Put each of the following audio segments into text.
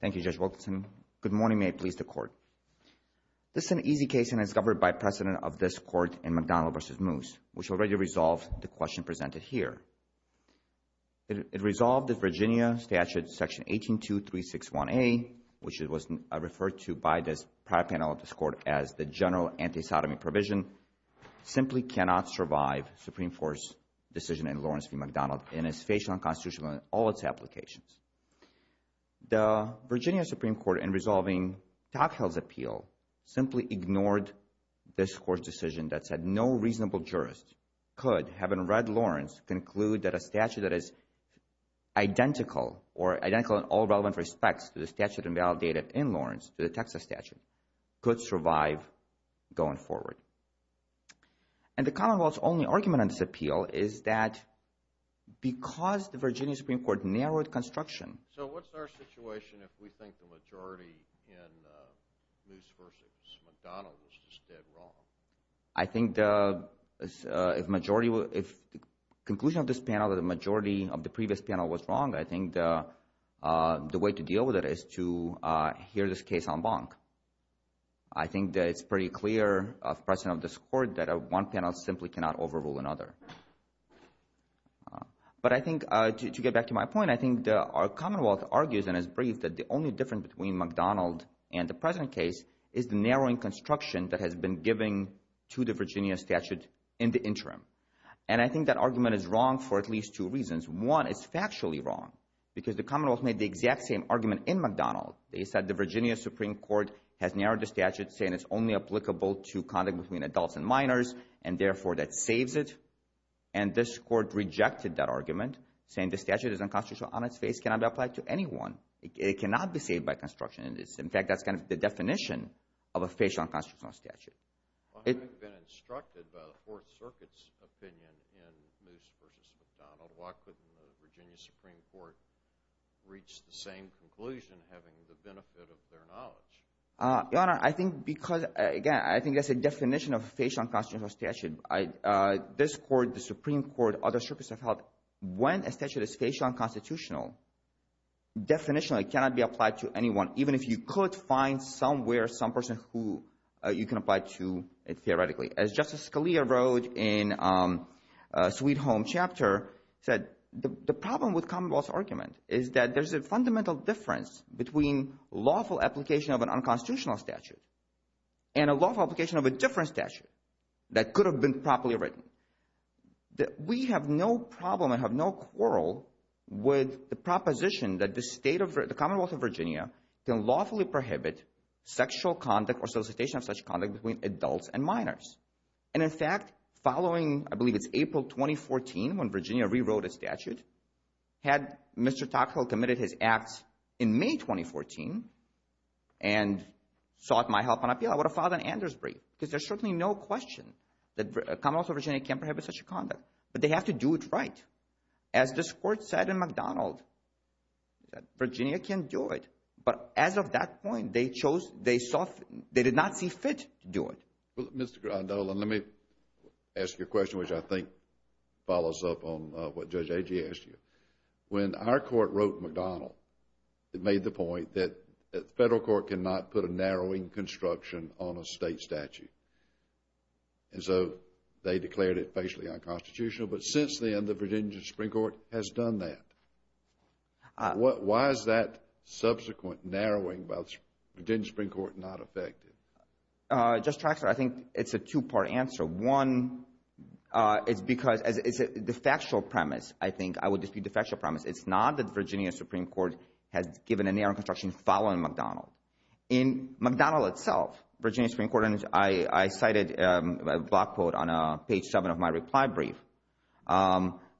Thank you, Judge Wilkinson. Good morning. May it please the Court. This is an easy case and is governed by precedent of this Court in McDonnell v. Moose, which already resolved the question presented here. It resolved that Virginia Statute Section 182361A, which was referred to by this prior panel of this Court as the general anti-sodomy provision, simply cannot survive Supreme Court's decision in Lawrence v. McDonnell in its facial and constitutional and all its applications. The Virginia Supreme Court, in resolving Toghill's appeal, simply ignored this Court's decision that said no reasonable jurist could, having read Lawrence, conclude that a statute that is identical or identical in all relevant respects to the statute invalidated in Lawrence, to the Texas statute, could survive going forward. And the Commonwealth's only argument on this appeal is that because the Virginia Supreme Court narrowed construction. So what's our situation if we think the majority in Moose v. McDonnell was just dead wrong? I think if the conclusion of this panel that the majority of the previous panel was wrong, I think the way to deal with it is to hear this case en banc. I think that it's pretty clear of precedent of this Court that one panel simply cannot overrule another. But I think, to get back to my point, I think our Commonwealth argues and has briefed that the only difference between McDonnell and the present case is the narrowing construction that has been given to the Virginia statute in the interim. And I think that argument is wrong for at least two reasons. One, it's factually wrong because the Commonwealth made the exact same argument in McDonnell. They said the Virginia Supreme Court has narrowed the statute saying it's only applicable to conduct between adults and minors and therefore that saves it. And this Court rejected that argument saying the statute is unconstitutional on its face, cannot be applied to anyone. It cannot be saved by construction. In fact, that's kind of the definition of a facial unconstitutional statute. If it had been instructed by the Fourth Circuit's opinion in Moose v. McDonnell, why couldn't the Virginia Supreme Court reach the same conclusion having the benefit of their knowledge? Your Honor, I think because, again, I think that's a definition of a facial unconstitutional statute. This Court, the Supreme Court, other Circus of Health, when a statute is facial unconstitutional, definitionally it cannot be applied to anyone, even if you could find somewhere some person who you can apply to theoretically. As Justice Scalia wrote in Sweet Home Chapter, he said the problem with Commonwealth's argument is that there's a fundamental difference between lawful application of an unconstitutional statute and a lawful application of a different statute that could have been properly written. We have no problem and have no quarrel with the proposition that the Commonwealth of Virginia can lawfully prohibit sexual conduct or solicitation of such conduct between adults and minors. And in fact, following, I believe it's April 2014 when Virginia rewrote its statute, had Mr. Gray 2014 and sought my help on appeal, I would have filed an Anders brief because there's certainly no question that the Commonwealth of Virginia can prohibit such conduct. But they have to do it right. As this Court said in McDonald, Virginia can do it. But as of that point, they chose, they saw, they did not see fit to do it. Well, Mr. Grandola, let me ask you a question which I think follows up on what Judge Agee asked you. When our Court wrote McDonald, it made the point that the Federal Court cannot put a narrowing construction on a state statute. And so they declared it facially unconstitutional. But since then, the Virginia Supreme Court has done that. Why is that subsequent narrowing by the Virginia Supreme Court not effective? Justice Traxler, I think it's a two-part answer. One is because the factual premise, I think, the factual premise, it's not that Virginia Supreme Court has given a narrowing construction following McDonald. In McDonald itself, Virginia Supreme Court and I cited a block quote on page 7 of my reply brief,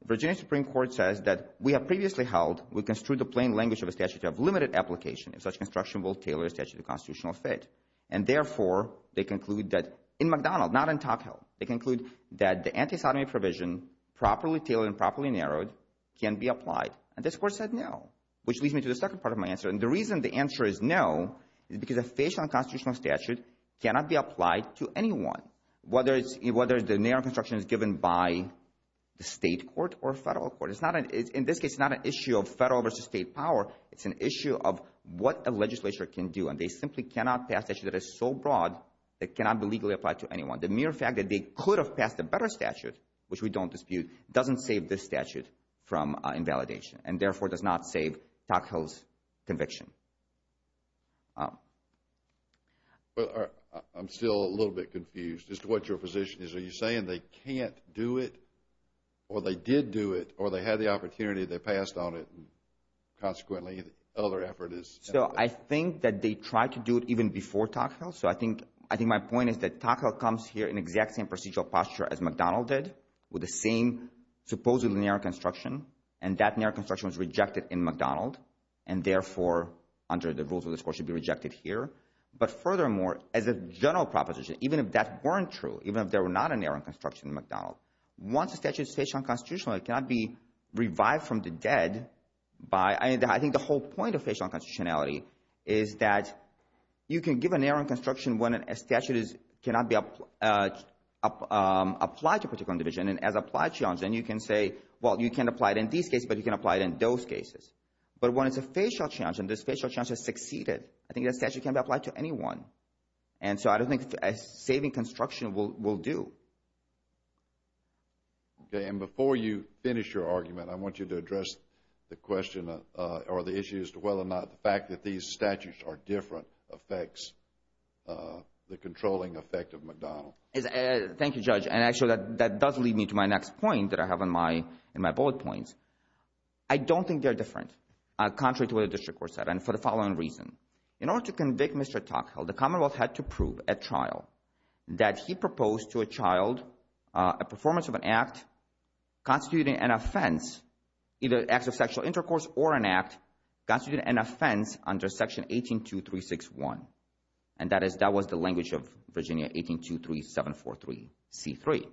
Virginia Supreme Court says that we have previously held, we construe the plain language of a statute to have limited application if such construction will tailor a statute to constitutional fit. And therefore, they conclude that in McDonald, not in Tocqueville, they conclude that the anti-sodomy provision properly tailored and properly narrowed can be applied. And this Court said no, which leads me to the second part of my answer. And the reason the answer is no is because a facially unconstitutional statute cannot be applied to anyone, whether the narrowing construction is given by the state court or federal court. In this case, it's not an issue of federal versus state power. It's an issue of what a legislature can do. And they simply cannot pass a statute that is so broad that it cannot be legally applied to anyone. The mere fact that they could have passed a better statute, which we don't dispute, doesn't save this statute from invalidation and therefore does not save Tocqueville's conviction. I'm still a little bit confused as to what your position is. Are you saying they can't do it or they did do it or they had the opportunity, they passed on it and consequently the other effort is... So I think that they tried to do it even before Tocqueville. So I think my point is that Tocqueville comes here in the exact same procedural posture as MacDonald did with the same supposed narrow construction. And that narrow construction was rejected in MacDonald and therefore, under the rules of the court, should be rejected here. But furthermore, as a general proposition, even if that weren't true, even if there were not a narrowing construction in MacDonald, once a statute is facially unconstitutional, it cannot be revived from the dead by... I think the whole point of facial unconstitutionality is that you can give a narrowing construction when a statute cannot be applied to a particular individual. And as an applied challenge, then you can say, well, you can apply it in these cases but you can apply it in those cases. But when it's a facial challenge and this facial challenge has succeeded, I think that statute can be applied to anyone. And so I don't think a saving construction will do. Okay. And before you finish your argument, I want you to address the question or the issue as to whether or not the fact that these statutes are different affects the controlling effect of MacDonald. Thank you, Judge. And actually, that does lead me to my next point that I have in my bullet points. I don't think they're different, contrary to what the district court said, and for the following reason. In order to convict Mr. Tocqueville, the Commonwealth had to prove at trial that he proposed to a child a performance of an act constituting an offense, under section 18.236.1. And that was the language of Virginia 18.23743C3.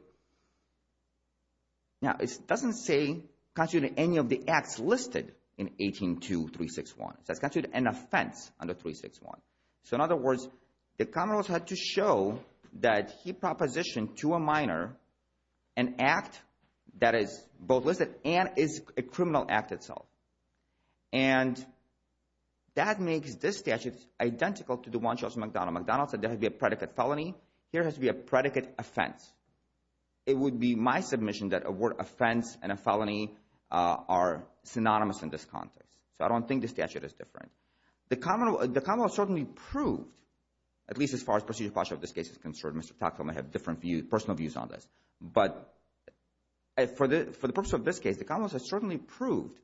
Now, it doesn't say constituting any of the acts listed in 18.236.1. It says constituting an offense under 18.236.1. So in other words, the Commonwealth had to show that he propositioned to a minor an act that is both listed and is a criminal act itself. And that makes this statute identical to the one Judge MacDonald. MacDonald said there has to be a predicate felony. Here has to be a predicate offense. It would be my submission that a word offense and a felony are synonymous in this context. So I don't think the statute is different. The Commonwealth certainly proved, at least as far as procedure of this case is concerned, Mr. Tocqueville may have different personal views on this. But for the purpose of this case, the Commonwealth has certainly proved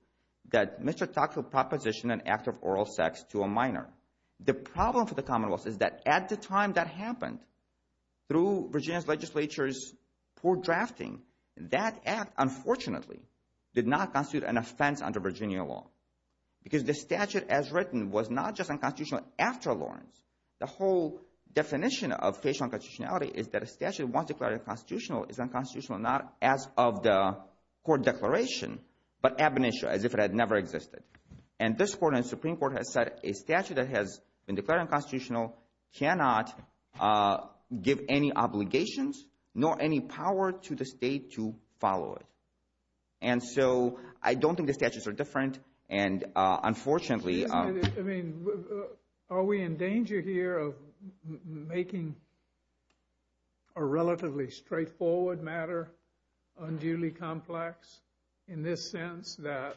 that Mr. Tocqueville propositioned an act of oral sex to a minor. The problem for the Commonwealth is that at the time that happened, through Virginia's legislature's poor drafting, that act, unfortunately, did not constitute an offense under Virginia law. Because the statute as written was not just unconstitutional after Lawrence. The whole definition of facial unconstitutionality is that a statute once declared unconstitutional is unconstitutional not as of the court declaration, but ab initio, as if it had never existed. And this Court and Supreme Court has said a statute that has been declared unconstitutional cannot give any obligations nor any power to the state to follow it. And so I don't think the statutes are different and unfortunately... I mean, are we in danger here of making a relatively straightforward matter unduly complex in this sense that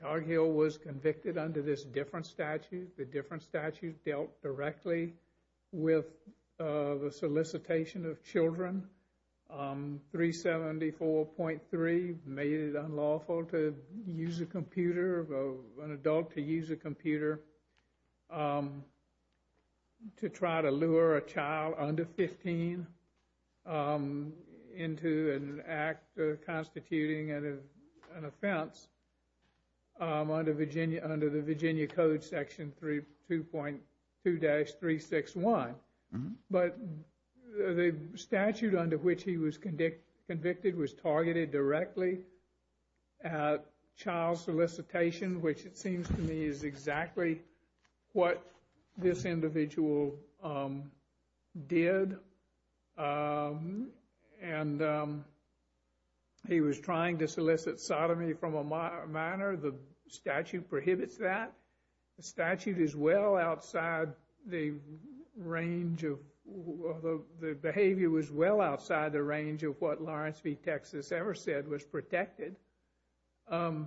Tocqueville was convicted under this different statute. The different statute dealt directly with the solicitation of children. 374.3 made it unlawful to use a computer of an adult to use a computer to try to lure a child under 15 into an act constituting an offense under the Virginia Code Section 2.2-361. But the statute under which he was convicted was targeted directly at child solicitation, which it seems to me is exactly what this individual did. And he was trying to solicit sodomy from a minor. The statute prohibits that. The statute is well outside the range of... the behavior was well outside the range of what Lawrence v. Texas ever said was protected. You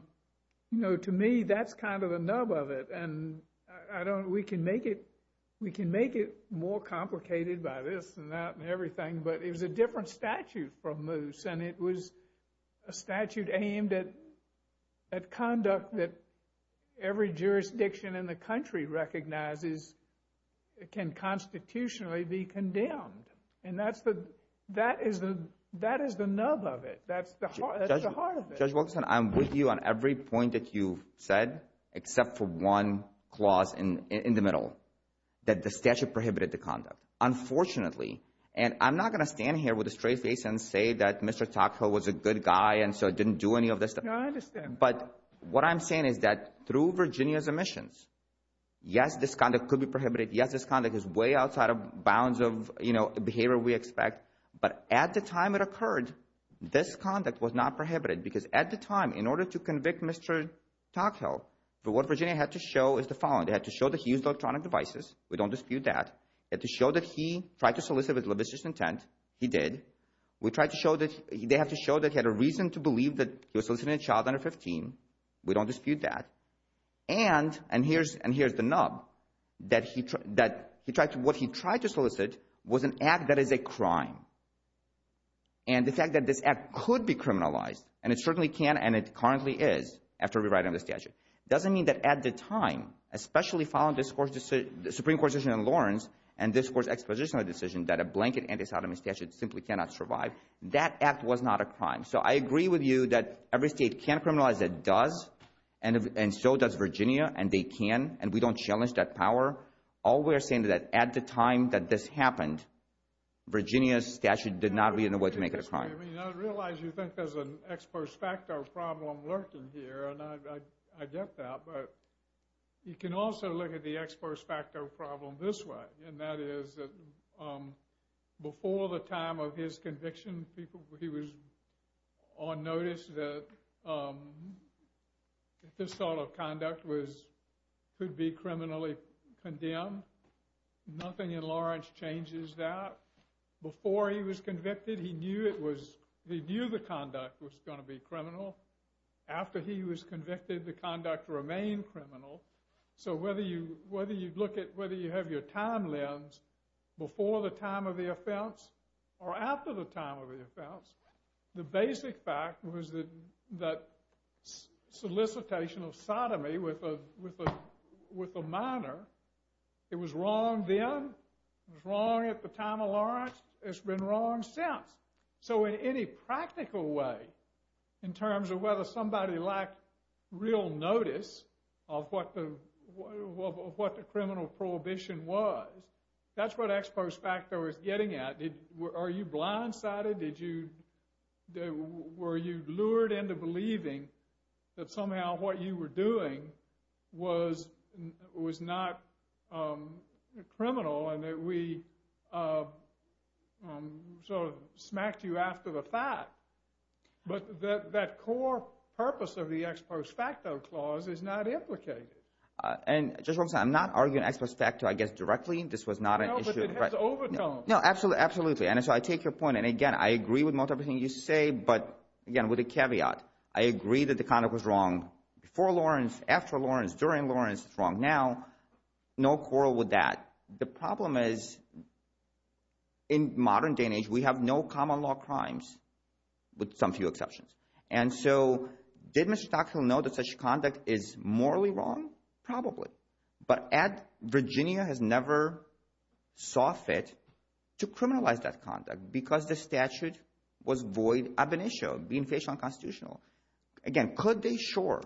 know, to me, that's kind of the nub of it. And we can make it more complicated by this and that and everything, but it was a different statute from Moose, and it was a statute aimed at conduct that every jurisdiction in the country recognizes can constitutionally be condemned. And that is the nub of it. That's the heart of it. Judge Wilkinson, I'm with you on every point that you said, except for one clause in the middle, that the statute prohibited the conduct. Unfortunately, and I'm not going to stand here with a straight face and say that Mr. Tocqueville was a good guy and so didn't do any of this stuff. No, I understand. But what I'm saying is that through Virginia's omissions, yes, this conduct could be prohibited. Yes, this conduct is way outside of bounds of, you know, the behavior we expect. But at the time it occurred, this conduct was not prohibited because at the time in order to convict Mr. Tocqueville, what Virginia had to show is the following. They had to show that he used electronic devices. We don't dispute that. They had to show that he tried to solicit with lavish intent. He did. They had to show that he had a reason to believe that he was soliciting a child under 15. We don't dispute that. And here's the nub that what he tried to solicit was an act that is a crime. And the fact that this act could be criminalized, and it certainly can and it currently is after rewriting the statute, doesn't mean that at the time, especially following the Supreme Court decision in Lawrence and this Court's exposition of the decision that a blanket anti-sodomy statute simply cannot survive, that act was not a crime. So I agree with you that every state can criminalize it, does, and so does Virginia and they can, and we don't challenge that power. All we are saying is that at the time that this happened, Virginia's statute did not lead in a way to make it a crime. I realize you think there's an ex post facto problem lurking here, and I get that, but you can also look at the ex post facto problem this way, and that is before the time of his conviction, he was on notice that this sort of conduct could be criminally condemned. Nothing in Lawrence changes that. Before he was convicted, he knew it was, he knew the conduct was going to be criminal. After he was convicted, the conduct remained criminal. So whether you, whether you look at, whether you have your time lens before the time of the offense or after the time of the offense, the basic fact was that solicitation of sodomy with a minor, it was wrong then, it was wrong at the time of Lawrence, it's been wrong since. So in any practical way, in terms of whether somebody lacked real notice of what the criminal prohibition was, that's what ex post facto is getting at. Are you blindsided? Did you, were you lured into believing that somehow what you were doing was not criminal and that we smacked you after the fact? But that core purpose of the ex post facto clause is not implicated. And Judge Robinson, I'm not arguing ex post facto, I guess, directly. This was not an issue. No, but it has overtoned. No, absolutely. And so I take your point, and again, I agree with most everything you say, but again, with a caveat, I agree that the conduct was wrong before Lawrence, after Lawrence, during Lawrence, it's wrong now. No quarrel with that. The problem is in modern day and age, we have no common law crimes with some few exceptions. And so did Mr. Tocqueville know that such conduct is morally wrong? Probably. But Virginia has never saw fit to criminalize that conduct because the statute was void of an issue, being very sure.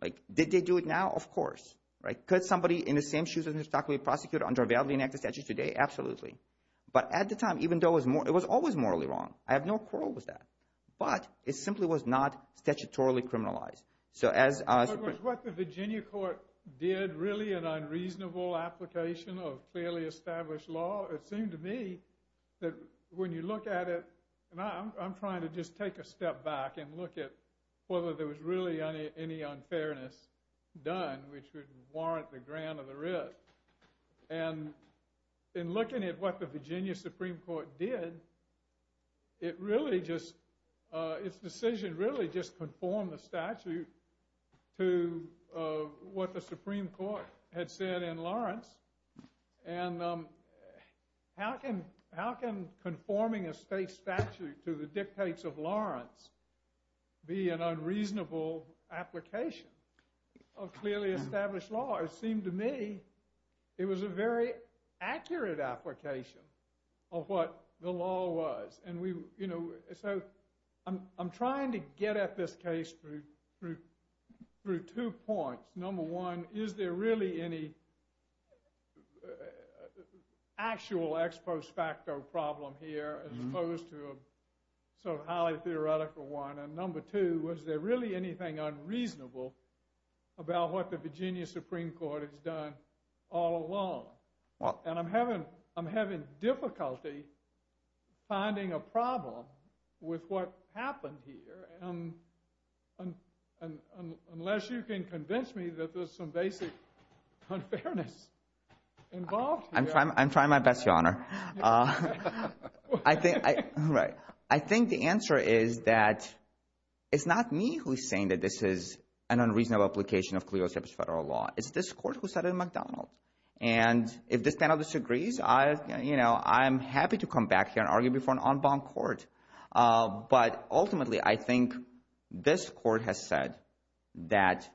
Like, did they do it now? Of course. Could somebody in the same shoes as Mr. Tocqueville be prosecuted under a validly enacted statute today? Absolutely. But at the time, even though it was always morally wrong, I have no quarrel with that. But it simply was not statutorily criminalized. Was what the Virginia court did really an unreasonable application of clearly established law? It seemed to me that when you look at it, and I'm trying to just take a step back and look at whether there was really any unfairness done, which would warrant the grant of the writ, and in looking at what the Virginia Supreme Court did, it really just, its decision really just conformed the statute to what the Supreme Court had said in Lawrence, and how can conforming a state statute to the dictates of Lawrence be an unreasonable application of clearly established law? It seemed to me it was a very accurate application of what the law was. And we, you know, so I'm trying to get at this case through two points. Number one, is there really any actual ex post facto problem here as opposed to a sort of highly theoretical one? And number two, was there really anything unreasonable about what the Virginia Supreme Court has done all along? And I'm having difficulty finding a problem with what happened here, and unless you can convince me that there's some basic unfairness involved here. I'm trying my best, Your Honor. I think the answer is that it's not me who's saying that this is an unreasonable application of clearly established federal law. It's this court who said it in McDonald. And if this panel disagrees, I'm happy to come back here and argue before an unbound court, but ultimately I think this court has said that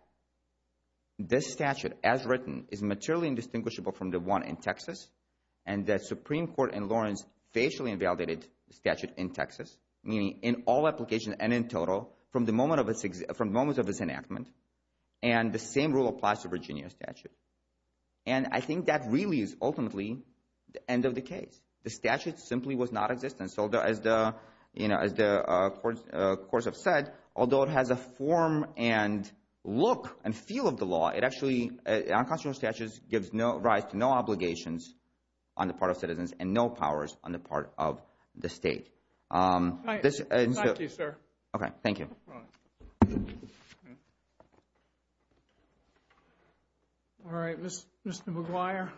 this statute, as written, is materially indistinguishable from the one in Texas, and that Supreme Court in Lawrence facially invalidated the statute in Texas, meaning in all applications and in total from the moment of its enactment, and the same rule applies to Virginia statute. And I think that really is ultimately the end of the case. The statute simply was not existent, so as the courts have said, although it has a form and look and feel of the law, it actually, unconstitutional statute gives rise to no obligations on the part of citizens and no powers on the part of the state. Thank you, sir. Okay, thank you. All right, Mr. McGuire. Mr. McGuire.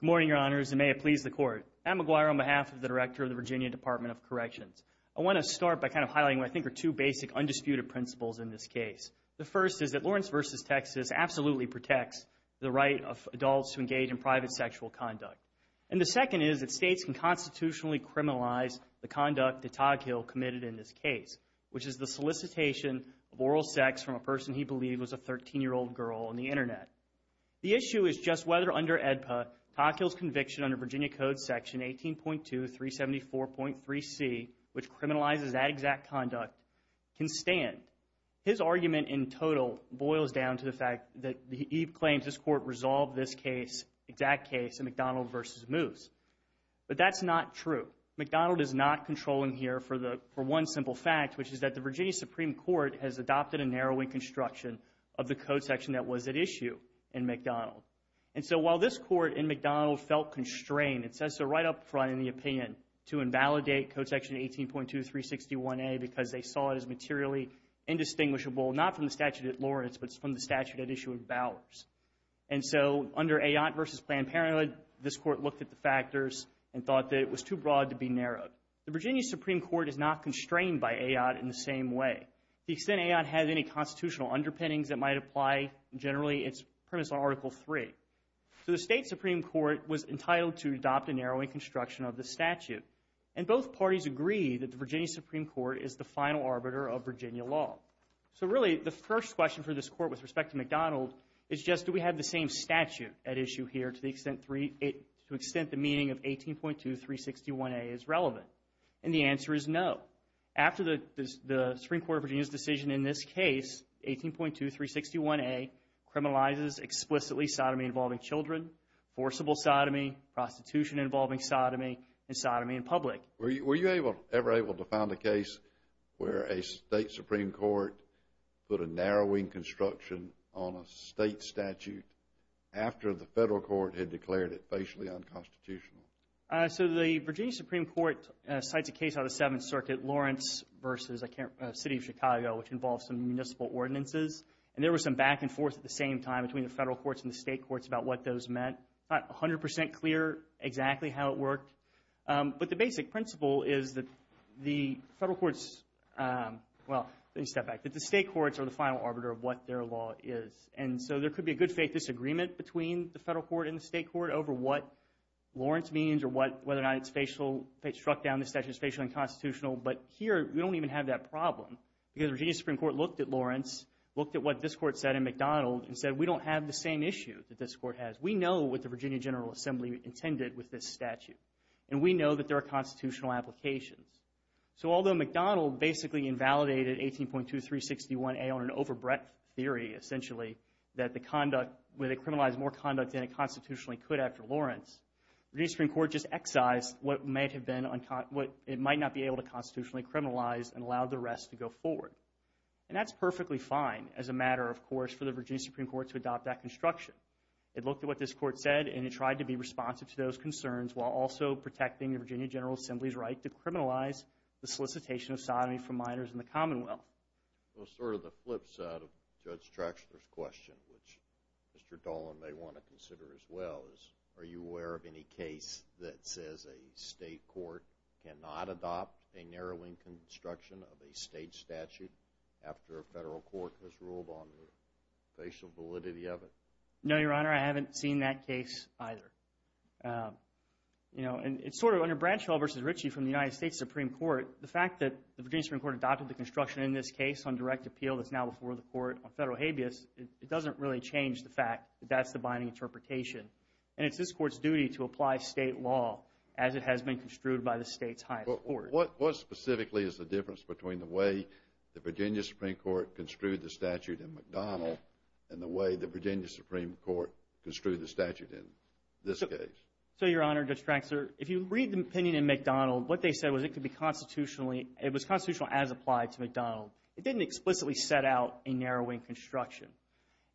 Good morning, Your Honors, and may it please the Court. I'm McGuire on behalf of the Director of the Virginia Department of Corrections. I want to start by kind of highlighting what I think are two basic undisputed principles in this case. The first is that Lawrence v. Texas absolutely protects the right of adults to engage in private sexual conduct. And the second is that states can conduct the conduct that Toghill committed in this case, which is the solicitation of oral sex from a person he believed was a 13-year-old girl on the Internet. The issue is just whether under AEDPA, Toghill's conviction under Virginia Code Section 18.2-374.3c, which criminalizes that exact conduct, can stand. His argument in total boils down to the fact that he claims this Court resolved this case, exact case, in McDonald v. Moose. But that's not true. McDonald is not controlling here for one simple fact, which is that the Virginia Supreme Court has adopted a narrowing construction of the Code Section that was at issue in McDonald. And so while this Court in McDonald felt constrained, it says so right up front in the opinion, to invalidate Code Section 18.2-361a because they saw it as materially indistinguishable, not from the statute at Lawrence, but from the statute at issue in Bowers. And so under Ayotte v. Planned Parenthood, this Court looked at the factors and thought that it was too broad to be narrowed. The Virginia Supreme Court is not constrained by Ayotte in the same way. To the extent Ayotte has any constitutional underpinnings that might apply, generally it's premised on Article III. So the state Supreme Court was entitled to adopt a narrowing construction of the statute. And both parties agree that the Virginia Supreme Court is the final arbiter of Virginia law. So really, the first question for this Court with respect to McDonald is just, do we have the same statute at issue here to the extent the meaning of 18.2-361a is relevant? And the answer is no. After the Supreme Court of Virginia's decision in this case, 18.2-361a criminalizes explicitly sodomy involving children, forcible sodomy, prostitution involving sodomy, and sodomy in public. Were you ever able to find a case where a state Supreme Court put a narrowing construction on a state statute after the Federal Court had declared it facially unconstitutional? So the Virginia Supreme Court cites a case out of the Seventh Circuit, Lawrence v. City of Chicago, which involves some municipal ordinances. And there was some back and forth at the same time between the Federal Courts and the State Courts about what those meant. Not 100 percent clear exactly how it worked. But the basic principle is that the Federal Courts, well, let me step back, that the State Courts are the final argument. There could be a good faith disagreement between the Federal Court and the State Court over what Lawrence means or whether or not it struck down the statute as facially unconstitutional. But here, we don't even have that problem. Because the Virginia Supreme Court looked at Lawrence, looked at what this Court said in McDonald, and said we don't have the same issue that this Court has. We know what the Virginia General Assembly intended with this statute. And we know that there are constitutional applications. So although McDonald basically invalidated 18.2-361a on an overbreadth theory, essentially, where they criminalized more conduct than it constitutionally could after Lawrence, the Supreme Court just excised what it might not be able to constitutionally criminalize and allowed the rest to go forward. And that's perfectly fine as a matter, of course, for the Virginia Supreme Court to adopt that construction. It looked at what this Court said and it tried to be responsive to those concerns while also protecting the Virginia General Assembly's right to criminalize the solicitation of sodomy for minors in the Commonwealth. Well, sort of the flip side of Judge Traxler's question, which Mr. Dolan may want to consider as well, is are you aware of any case that says a state court cannot adopt a narrowing construction of a state statute after a federal court has ruled on the facial validity of it? No, Your Honor. I haven't seen that case either. You know, it's sort of under Bradshaw v. Ritchie from the United States Supreme Court, the fact that the Virginia Supreme Court adopted the construction in this case on direct appeal that's now before the court on federal habeas, it doesn't really change the fact that that's the binding interpretation. And it's this Court's duty to apply state law as it has been construed by the state's highest court. What specifically is the difference between the way the Virginia Supreme Court construed the statute in McDonnell and the way the Virginia Supreme Court construed the statute in this case? So, Your Honor, Judge Traxler, if you read the opinion in McDonnell, what they said was it could be constitutionally, it was constitutional as applied to McDonnell. It didn't explicitly set out a narrowing construction.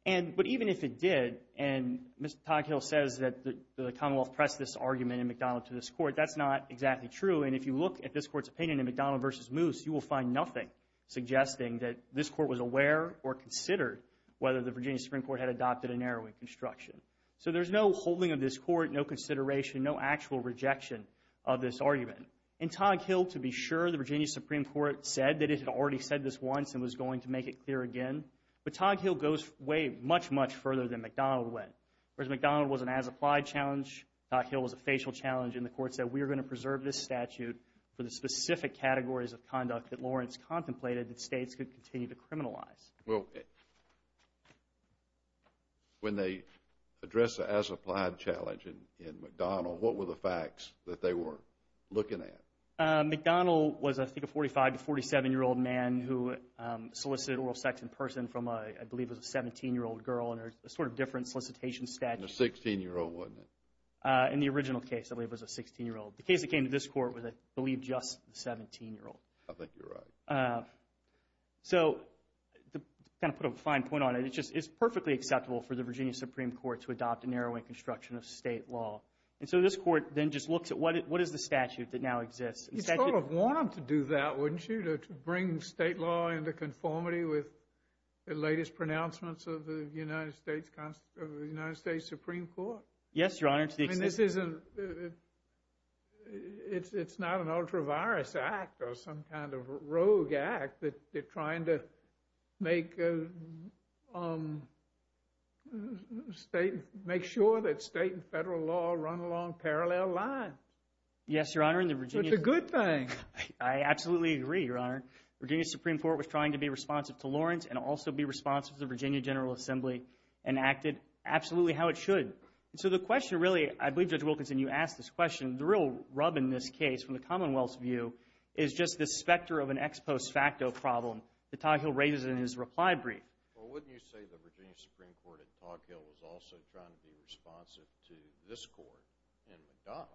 But even if it did, and Mr. Toghill says that the Commonwealth pressed this argument in McDonnell to this Court, that's not exactly true. And if you look at this Court's opinion in McDonnell v. Moose, you will find nothing suggesting that this Court was aware or considered whether the Virginia Supreme Court had adopted a narrowing construction. So there's no holding of this Court, no consideration, no actual rejection of this argument. And Toghill, to be sure, the Virginia Supreme Court said that it had already said this once and was going to make it clear again. But Toghill goes way, much, much further than McDonnell went. Whereas McDonnell was an as-applied challenge, Toghill was a facial challenge, and the Court said we are going to preserve this statute for the specific categories of conduct that Lawrence contemplated that states could continue to criminalize. When they address the as-applied challenge in McDonnell, what were the facts that they were looking at? McDonnell was, I think, a 45- to 47-year-old man who solicited oral sex in person from a, I believe it was a 17-year-old girl under a sort of different solicitation statute. And a 16-year-old, wasn't it? In the original case, I believe it was a 16-year-old. The case that came to this Court was, I believe, just the 17-year-old. I think you're right. To put a fine point on it, it's perfectly acceptable for the Virginia Supreme Court to adopt a narrowing construction of state law. And so this Court then just looks at what is the statute that now exists? You'd sort of want them to do that, wouldn't you? To bring state law into conformity with the latest pronouncements of the United States Supreme Court? Yes, Your Honor. It's not an ultra-virus act or some kind of rogue act that they're trying to make sure that state and federal law run along parallel lines. Yes, Your Honor. It's a good thing. I absolutely agree, Your Honor. Virginia Supreme Court was trying to be responsive to Lawrence and also be responsive to the Virginia General Assembly and acted absolutely how it should. And so the question really, I believe Judge Wilkinson, you asked this question, the real rub in this case from the Commonwealth's view is just this specter of an ex post facto problem that Toghill raises in his reply brief. Well, wouldn't you say the Virginia Supreme Court at Toghill was also trying to be responsive to this Court in McDonald?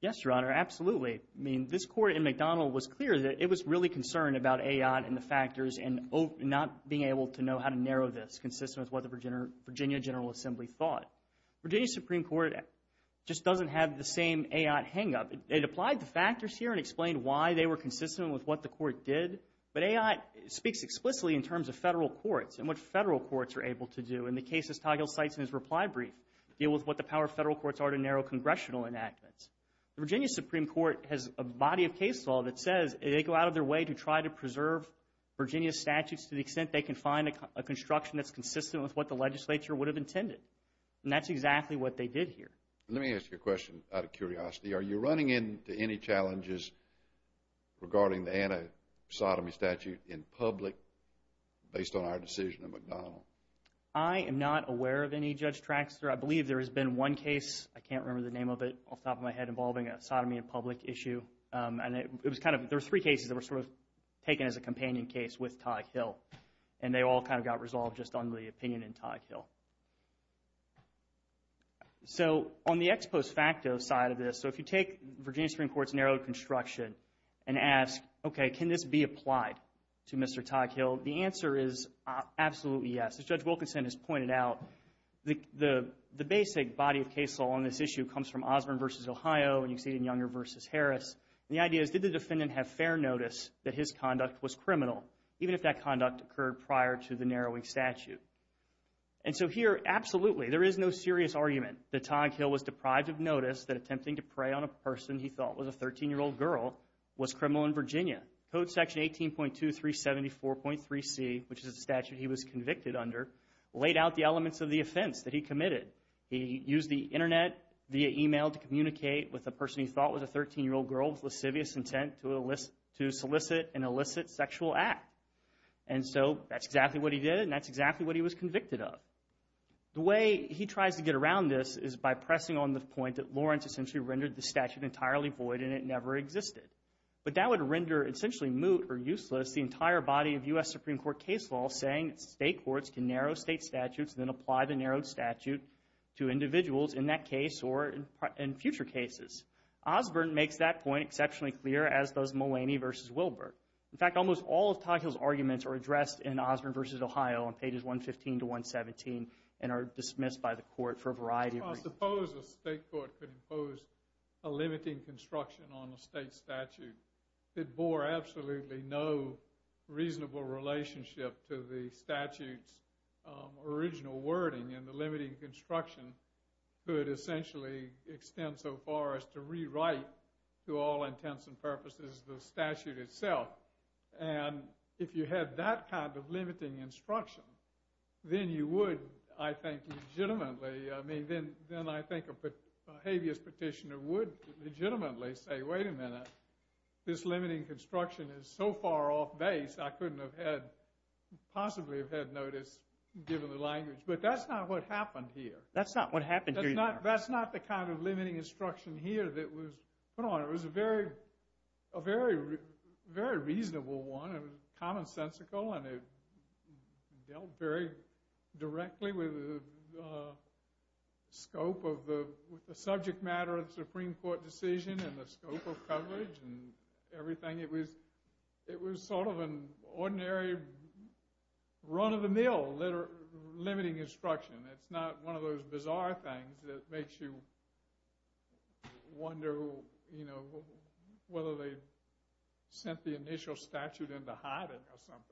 Yes, Your Honor. Absolutely. I mean, this Court in McDonald was clear that it was really concerned about A.I.T. and the factors and not being able to know how to narrow this consistent with what the Virginia General Assembly thought. Virginia Supreme Court just doesn't have the same A.I.T. hang-up. It applied the factors here and explained why they were consistent with what the Court did. But A.I.T. speaks explicitly in terms of federal courts and what federal courts are able to do. And the cases Toghill cites in his reply brief deal with what the power of federal courts are to narrow congressional enactments. The Virginia Supreme Court has a body of case law that says they go out of their way to try to preserve Virginia's statutes to the extent they can find a construction that's consistent with what the legislature would have intended. And that's exactly what they did here. Let me ask you a question out of curiosity. Are you running into any challenges regarding the anti-sodomy statute in public based on our decision in McDonald? I am not aware of any, Judge Traxtor. I believe there has been one case, I can't remember the name of it off the top of my head, involving a sodomy in public issue. There were three cases that were sort of taken as a companion case with Toghill. And they all kind of got resolved just on the opinion in Toghill. So, on the ex post facto side of this, so if you take Virginia Supreme Court's narrowed construction and ask, okay, can this be applied to Mr. Toghill? The answer is absolutely yes. As Judge Wilkinson has pointed out, the basic body of case law on this issue comes from Osborn v. Ohio and you can see it in Younger v. Harris. And the idea is, did the defendant have fair notice that his conduct was criminal, even if that conduct occurred prior to the narrowing statute? And so here, absolutely, there is no serious argument that Toghill was deprived of notice that attempting to prey on a person he thought was a 13-year-old girl was criminal in Virginia. Code Section 18.2374.3c, which is the statute he was convicted under, laid out the elements of the offense that he committed. He used the internet via email to communicate with a person he thought was a 13-year-old girl with lascivious intent to solicit an illicit sexual act. And so that's exactly what he did and that's exactly what he was convicted of. The way he tries to get around this is by pressing on the point that Lawrence essentially rendered the statute entirely void and it never existed. But that would render essentially moot or useless the entire body of U.S. Supreme Court case law saying state courts can narrow state statutes and then apply the narrowed statute to individuals in that case or in future cases. Osborn makes that point exceptionally clear, as does Mulaney v. Wilbur. In fact, almost all of Toghill's arguments are addressed in Osborn v. Ohio on pages 115 to 117 and are dismissed by the court for a variety of reasons. I suppose a state court could impose a limiting construction on a state statute that bore absolutely no reasonable relationship to the statute's original wording and the limiting construction could essentially extend so far as to rewrite, to all intents and purposes, the statute itself. And if you had that kind of then you would, I think, legitimately a habeas petitioner would legitimately say, wait a minute this limiting construction is so far off base I couldn't have possibly have had notice given the language. But that's not what happened here. That's not what happened here either. That's not the kind of limiting instruction here that was put on. It was a very reasonable one. It was commonsensical and it dealt very directly with the scope of the subject matter of the Supreme Court decision and the scope of coverage and everything. It was sort of an ordinary run of the mill limiting instruction. It's not one of those bizarre things that makes you wonder whether they sent the initial statute into hiding or something.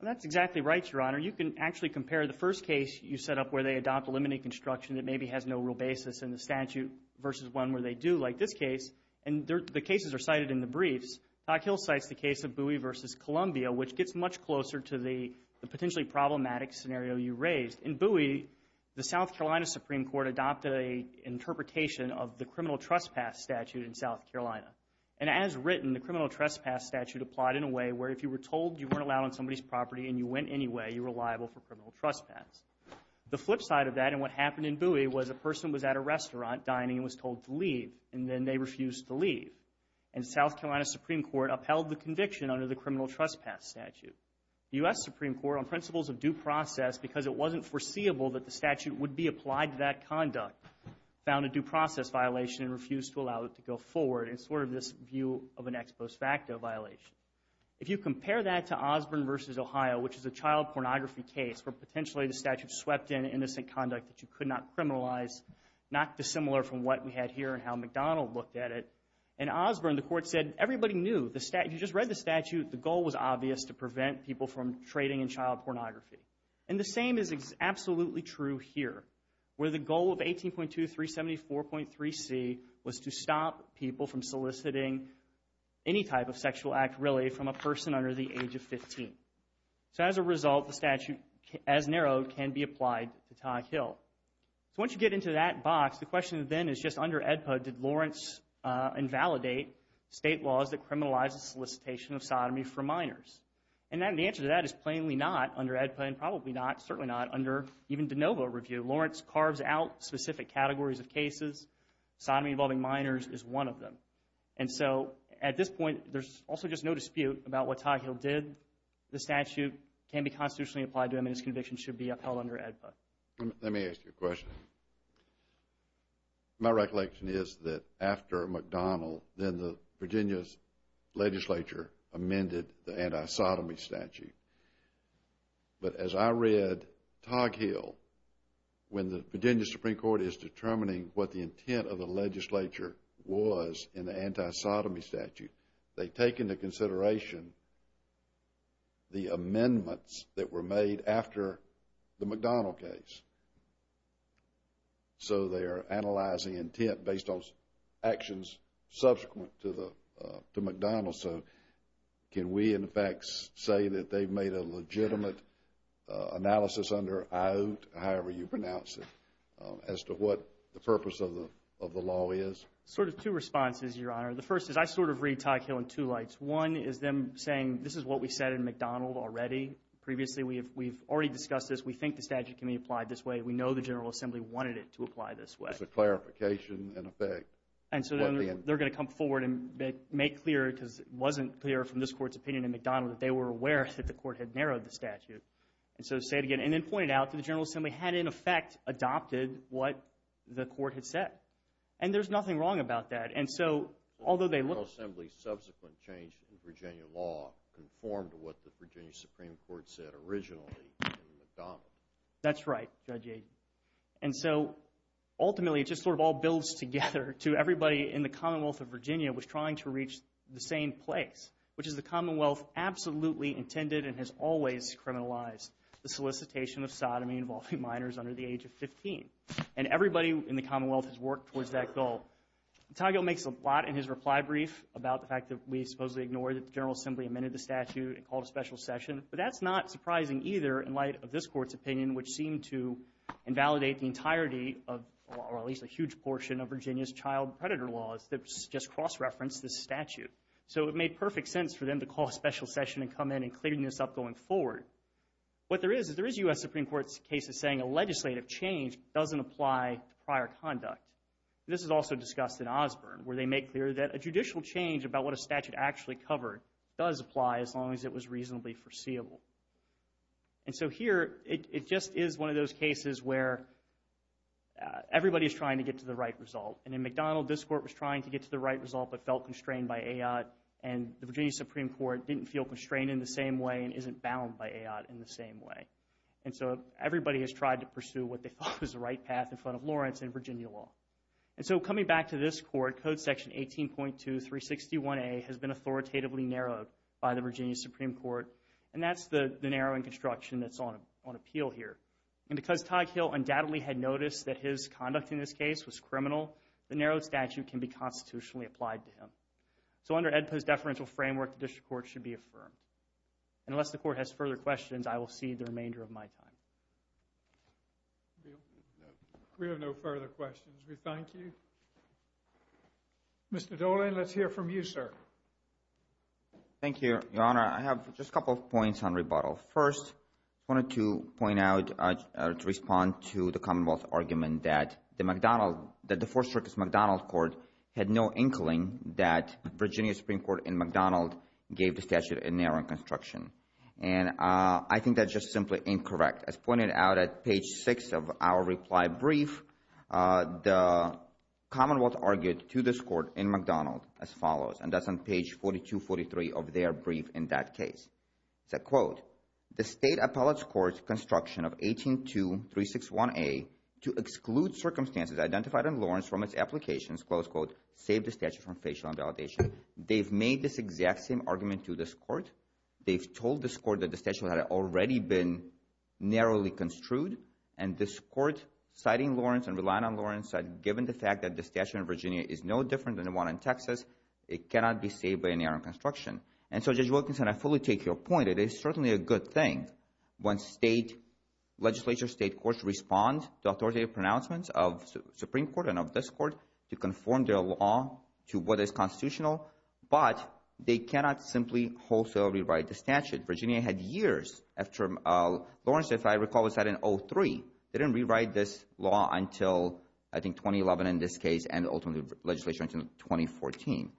That's exactly right, Your Honor. You can actually compare the first case you set up where they adopt a limiting construction that maybe has no real basis in the statute versus one where they do, like this case. And the cases are cited in the briefs. Doc Hill cites the case of Bowie v. Columbia, which gets much closer to the potentially problematic scenario you raised. In Bowie the South Carolina Supreme Court adopted an interpretation of the criminal trespass statute in South Carolina. And as written, the criminal trespass statute applied in a way where if you were told you weren't allowed on somebody's property and you went anyway, you were liable for criminal trespass. The flip side of that and what happened in Bowie was a person was at a restaurant dining and was told to leave. And then they refused to leave. And South Carolina Supreme Court upheld the conviction under the criminal trespass statute. The U.S. Supreme Court, on principles of due process because it wasn't foreseeable that the statute would be applied to that conduct, found a due process violation and refused to allow it to go forward. And sort of this is a view of an ex post facto violation. If you compare that to Osborne v. Ohio, which is a child pornography case where potentially the statute swept in innocent conduct that you could not criminalize, not dissimilar from what we had here and how McDonald looked at it. In Osborne the court said everybody knew, if you just read the statute, the goal was obvious to prevent people from trading in child pornography. And the same is absolutely true here. Where the goal of 18.2374.3c was to stop people from soliciting any type of sexual act, really, from a person under the age of 15. So as a result, the statute as narrowed can be applied to Todd Hill. So once you get into that box, the question then is just under AEDPA, did Lawrence invalidate state laws that criminalize the solicitation of sodomy for minors? And the answer to that is plainly not under AEDPA and probably not, certainly not, under even de novo review. Lawrence carves out specific categories of cases. Sodomy involving minors is one of them. And so at this point, there's also just no dispute about what Todd Hill did. The statute can be constitutionally applied to him and his conviction should be upheld under AEDPA. Let me ask you a question. My recollection is that after McDonald, then the Virginia's legislature amended the anti-sodomy statute. But as I read Todd Hill, when the Virginia Supreme Court is determining what the intent of the legislature was in the anti-sodomy statute, they take into consideration the amendments that were made after the McDonald case. So they are analyzing intent based on actions subsequent to McDonald. So can we, in fact, say that they made a legitimate analysis under McDonald as to what the purpose of the law is? Sort of two responses, Your Honor. The first is I sort of read Todd Hill in two lights. One is them saying, this is what we said in McDonald already. Previously, we've already discussed this. We think the statute can be applied this way. We know the General Assembly wanted it to apply this way. It's a clarification in effect. And so they're going to come forward and make clear, because it wasn't clear from this Court's opinion in McDonald, that they were aware that the Court had narrowed the statute. And so to say it again, and then point it out to the General Assembly, had in effect adopted what the Court had said. And there's nothing wrong about that. And so, although they looked... The General Assembly's subsequent change in Virginia law conformed to what the Virginia Supreme Court said originally in McDonald. That's right, Judge Aydin. And so, ultimately, it just sort of all builds together to everybody in the Commonwealth of Virginia was trying to reach the same place, which is the Commonwealth absolutely intended and has always criminalized the solicitation of sodomy involving minors under the age of 15. And everybody in the Commonwealth has worked towards that goal. Toggill makes a lot in his reply brief about the fact that we supposedly ignored that the General Assembly amended the statute and called a special session. But that's not surprising either in light of this Court's opinion, which seemed to invalidate the entirety of or at least a huge portion of Virginia's child predator laws that just cross-referenced this statute. So it made perfect sense for them to call a special session and come in and clear this up going forward. What there is, is there is U.S. Supreme Court's case that's saying a legislative change doesn't apply to prior conduct. This is also discussed in Osborne, where they make clear that a judicial change about what a statute actually covered does apply as long as it was reasonably foreseeable. And so here, it just is one of those cases where everybody's trying to get to the right result. And in McDonald, this Court was trying to get to the right result but felt constrained by A.I.T. and the same way and isn't bound by A.I.T. in the same way. And so everybody has tried to pursue what they thought was the right path in front of Lawrence and Virginia law. And so coming back to this Court, Code Section 18.2-361A has been authoritatively narrowed by the Virginia Supreme Court. And that's the narrowing construction that's on appeal here. And because Todd Hill undoubtedly had noticed that his conduct in this case was criminal, the narrowed statute can be constitutionally applied to him. So under AEDPA's deferential framework, the District Court should be affirmed. Unless the Court has further questions, I will cede the remainder of my time. We have no further questions. We thank you. Mr. Dolan, let's hear from you, sir. Thank you, Your Honor. I have just a couple of points on rebuttal. First, I wanted to point out, to respond to the Commonwealth argument that the McDonald, that the Fourth Circuit's McDonald Court had no inkling that gave the statute a narrowing construction. And I think that's just simply incorrect. As pointed out at page 6 of our reply brief, the Commonwealth argued to this Court in McDonald as follows, and that's on page 42-43 of their brief in that case. It said, quote, the State Appellate's Court's construction of 18.2-361A to exclude circumstances identified in Lawrence from its applications, close quote, saved the statute from facial invalidation. They've made this exact same argument to this Court. They've told this Court that the statute had already been narrowly construed and this Court, citing Lawrence and relying on Lawrence, said given the fact that the statute in Virginia is no different than the one in Texas, it cannot be saved by an error in construction. And so, Judge Wilkinson, I fully take your point. It is certainly a good thing when State, Legislature, State Courts respond to authoritative pronouncements of the Supreme Court and of this Court to conform their law to what is constitutional, but they cannot simply wholesale rewrite the statute. Virginia had years after Lawrence, if I recall, was set in 03. They didn't rewrite this law until I think 2011 in this case and ultimately Legislature until 2014.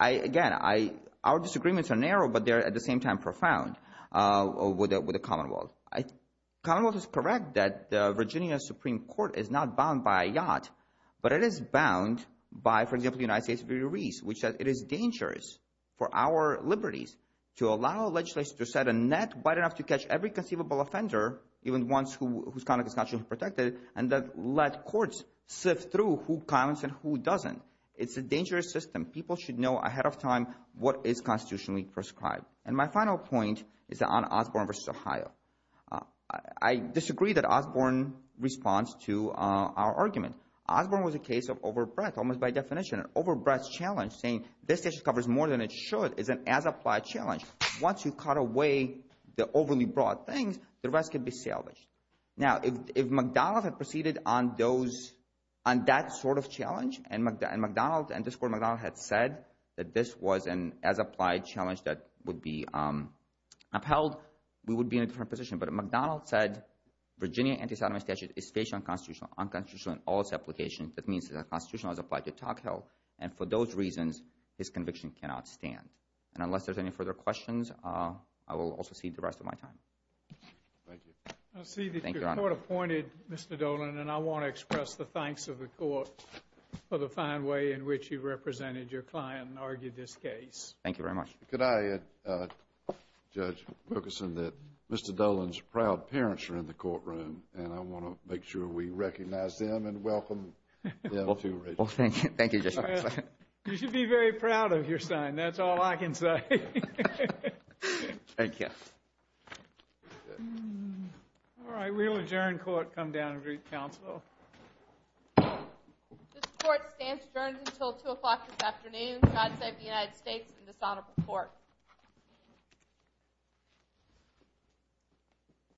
Again, our disagreements are narrow, but they're at the same time profound with the Commonwealth. The Commonwealth is correct that the Virginia Supreme Court is not bound by a yacht, but it is bound by, for example, the United States of the Rees, which says it is dangerous for our liberties to allow Legislature to set a net wide enough to catch every conceivable offender, even ones whose conduct is not truly protected, and then let courts sift through who counts and who doesn't. It's a dangerous system. People should know ahead of time what is constitutionally prescribed. And my final point is on Osborne v. Ohio. I disagree that Osborne responds to our argument. Osborne was a case of overbreadth, almost by definition. An overbreadth challenge, saying this statute covers more than it should, is an as-applied challenge. Once you cut away the overly broad things, the rest can be salvaged. Now, if McDonnell had proceeded on those on that sort of challenge, and McDonnell had said that this was an as-applied challenge that would be upheld, we would be in a different position. But if McDonnell said that Virginia anti-sodomy statute is facial and constitutional, unconstitutional in all its applications, that means that the Constitution was applied to Tocqueville. And for those reasons, his conviction cannot stand. And unless there's any further questions, I will also cede the rest of my time. Thank you. I see that your Court appointed Mr. Dolan, and I want to express the thanks of the Court for the fine way in which you represented your client and argued this case. Thank you very much. Could I, Judge Wilkerson, that Mr. Dolan is in the courtroom, and I want to make sure we recognize him and welcome him to Richard. You should be very proud of your son, that's all I can say. Thank you. Alright, we will adjourn court, come down and greet counsel. This Court stands adjourned until 2 o'clock this afternoon. God save the United States and this honorable Court.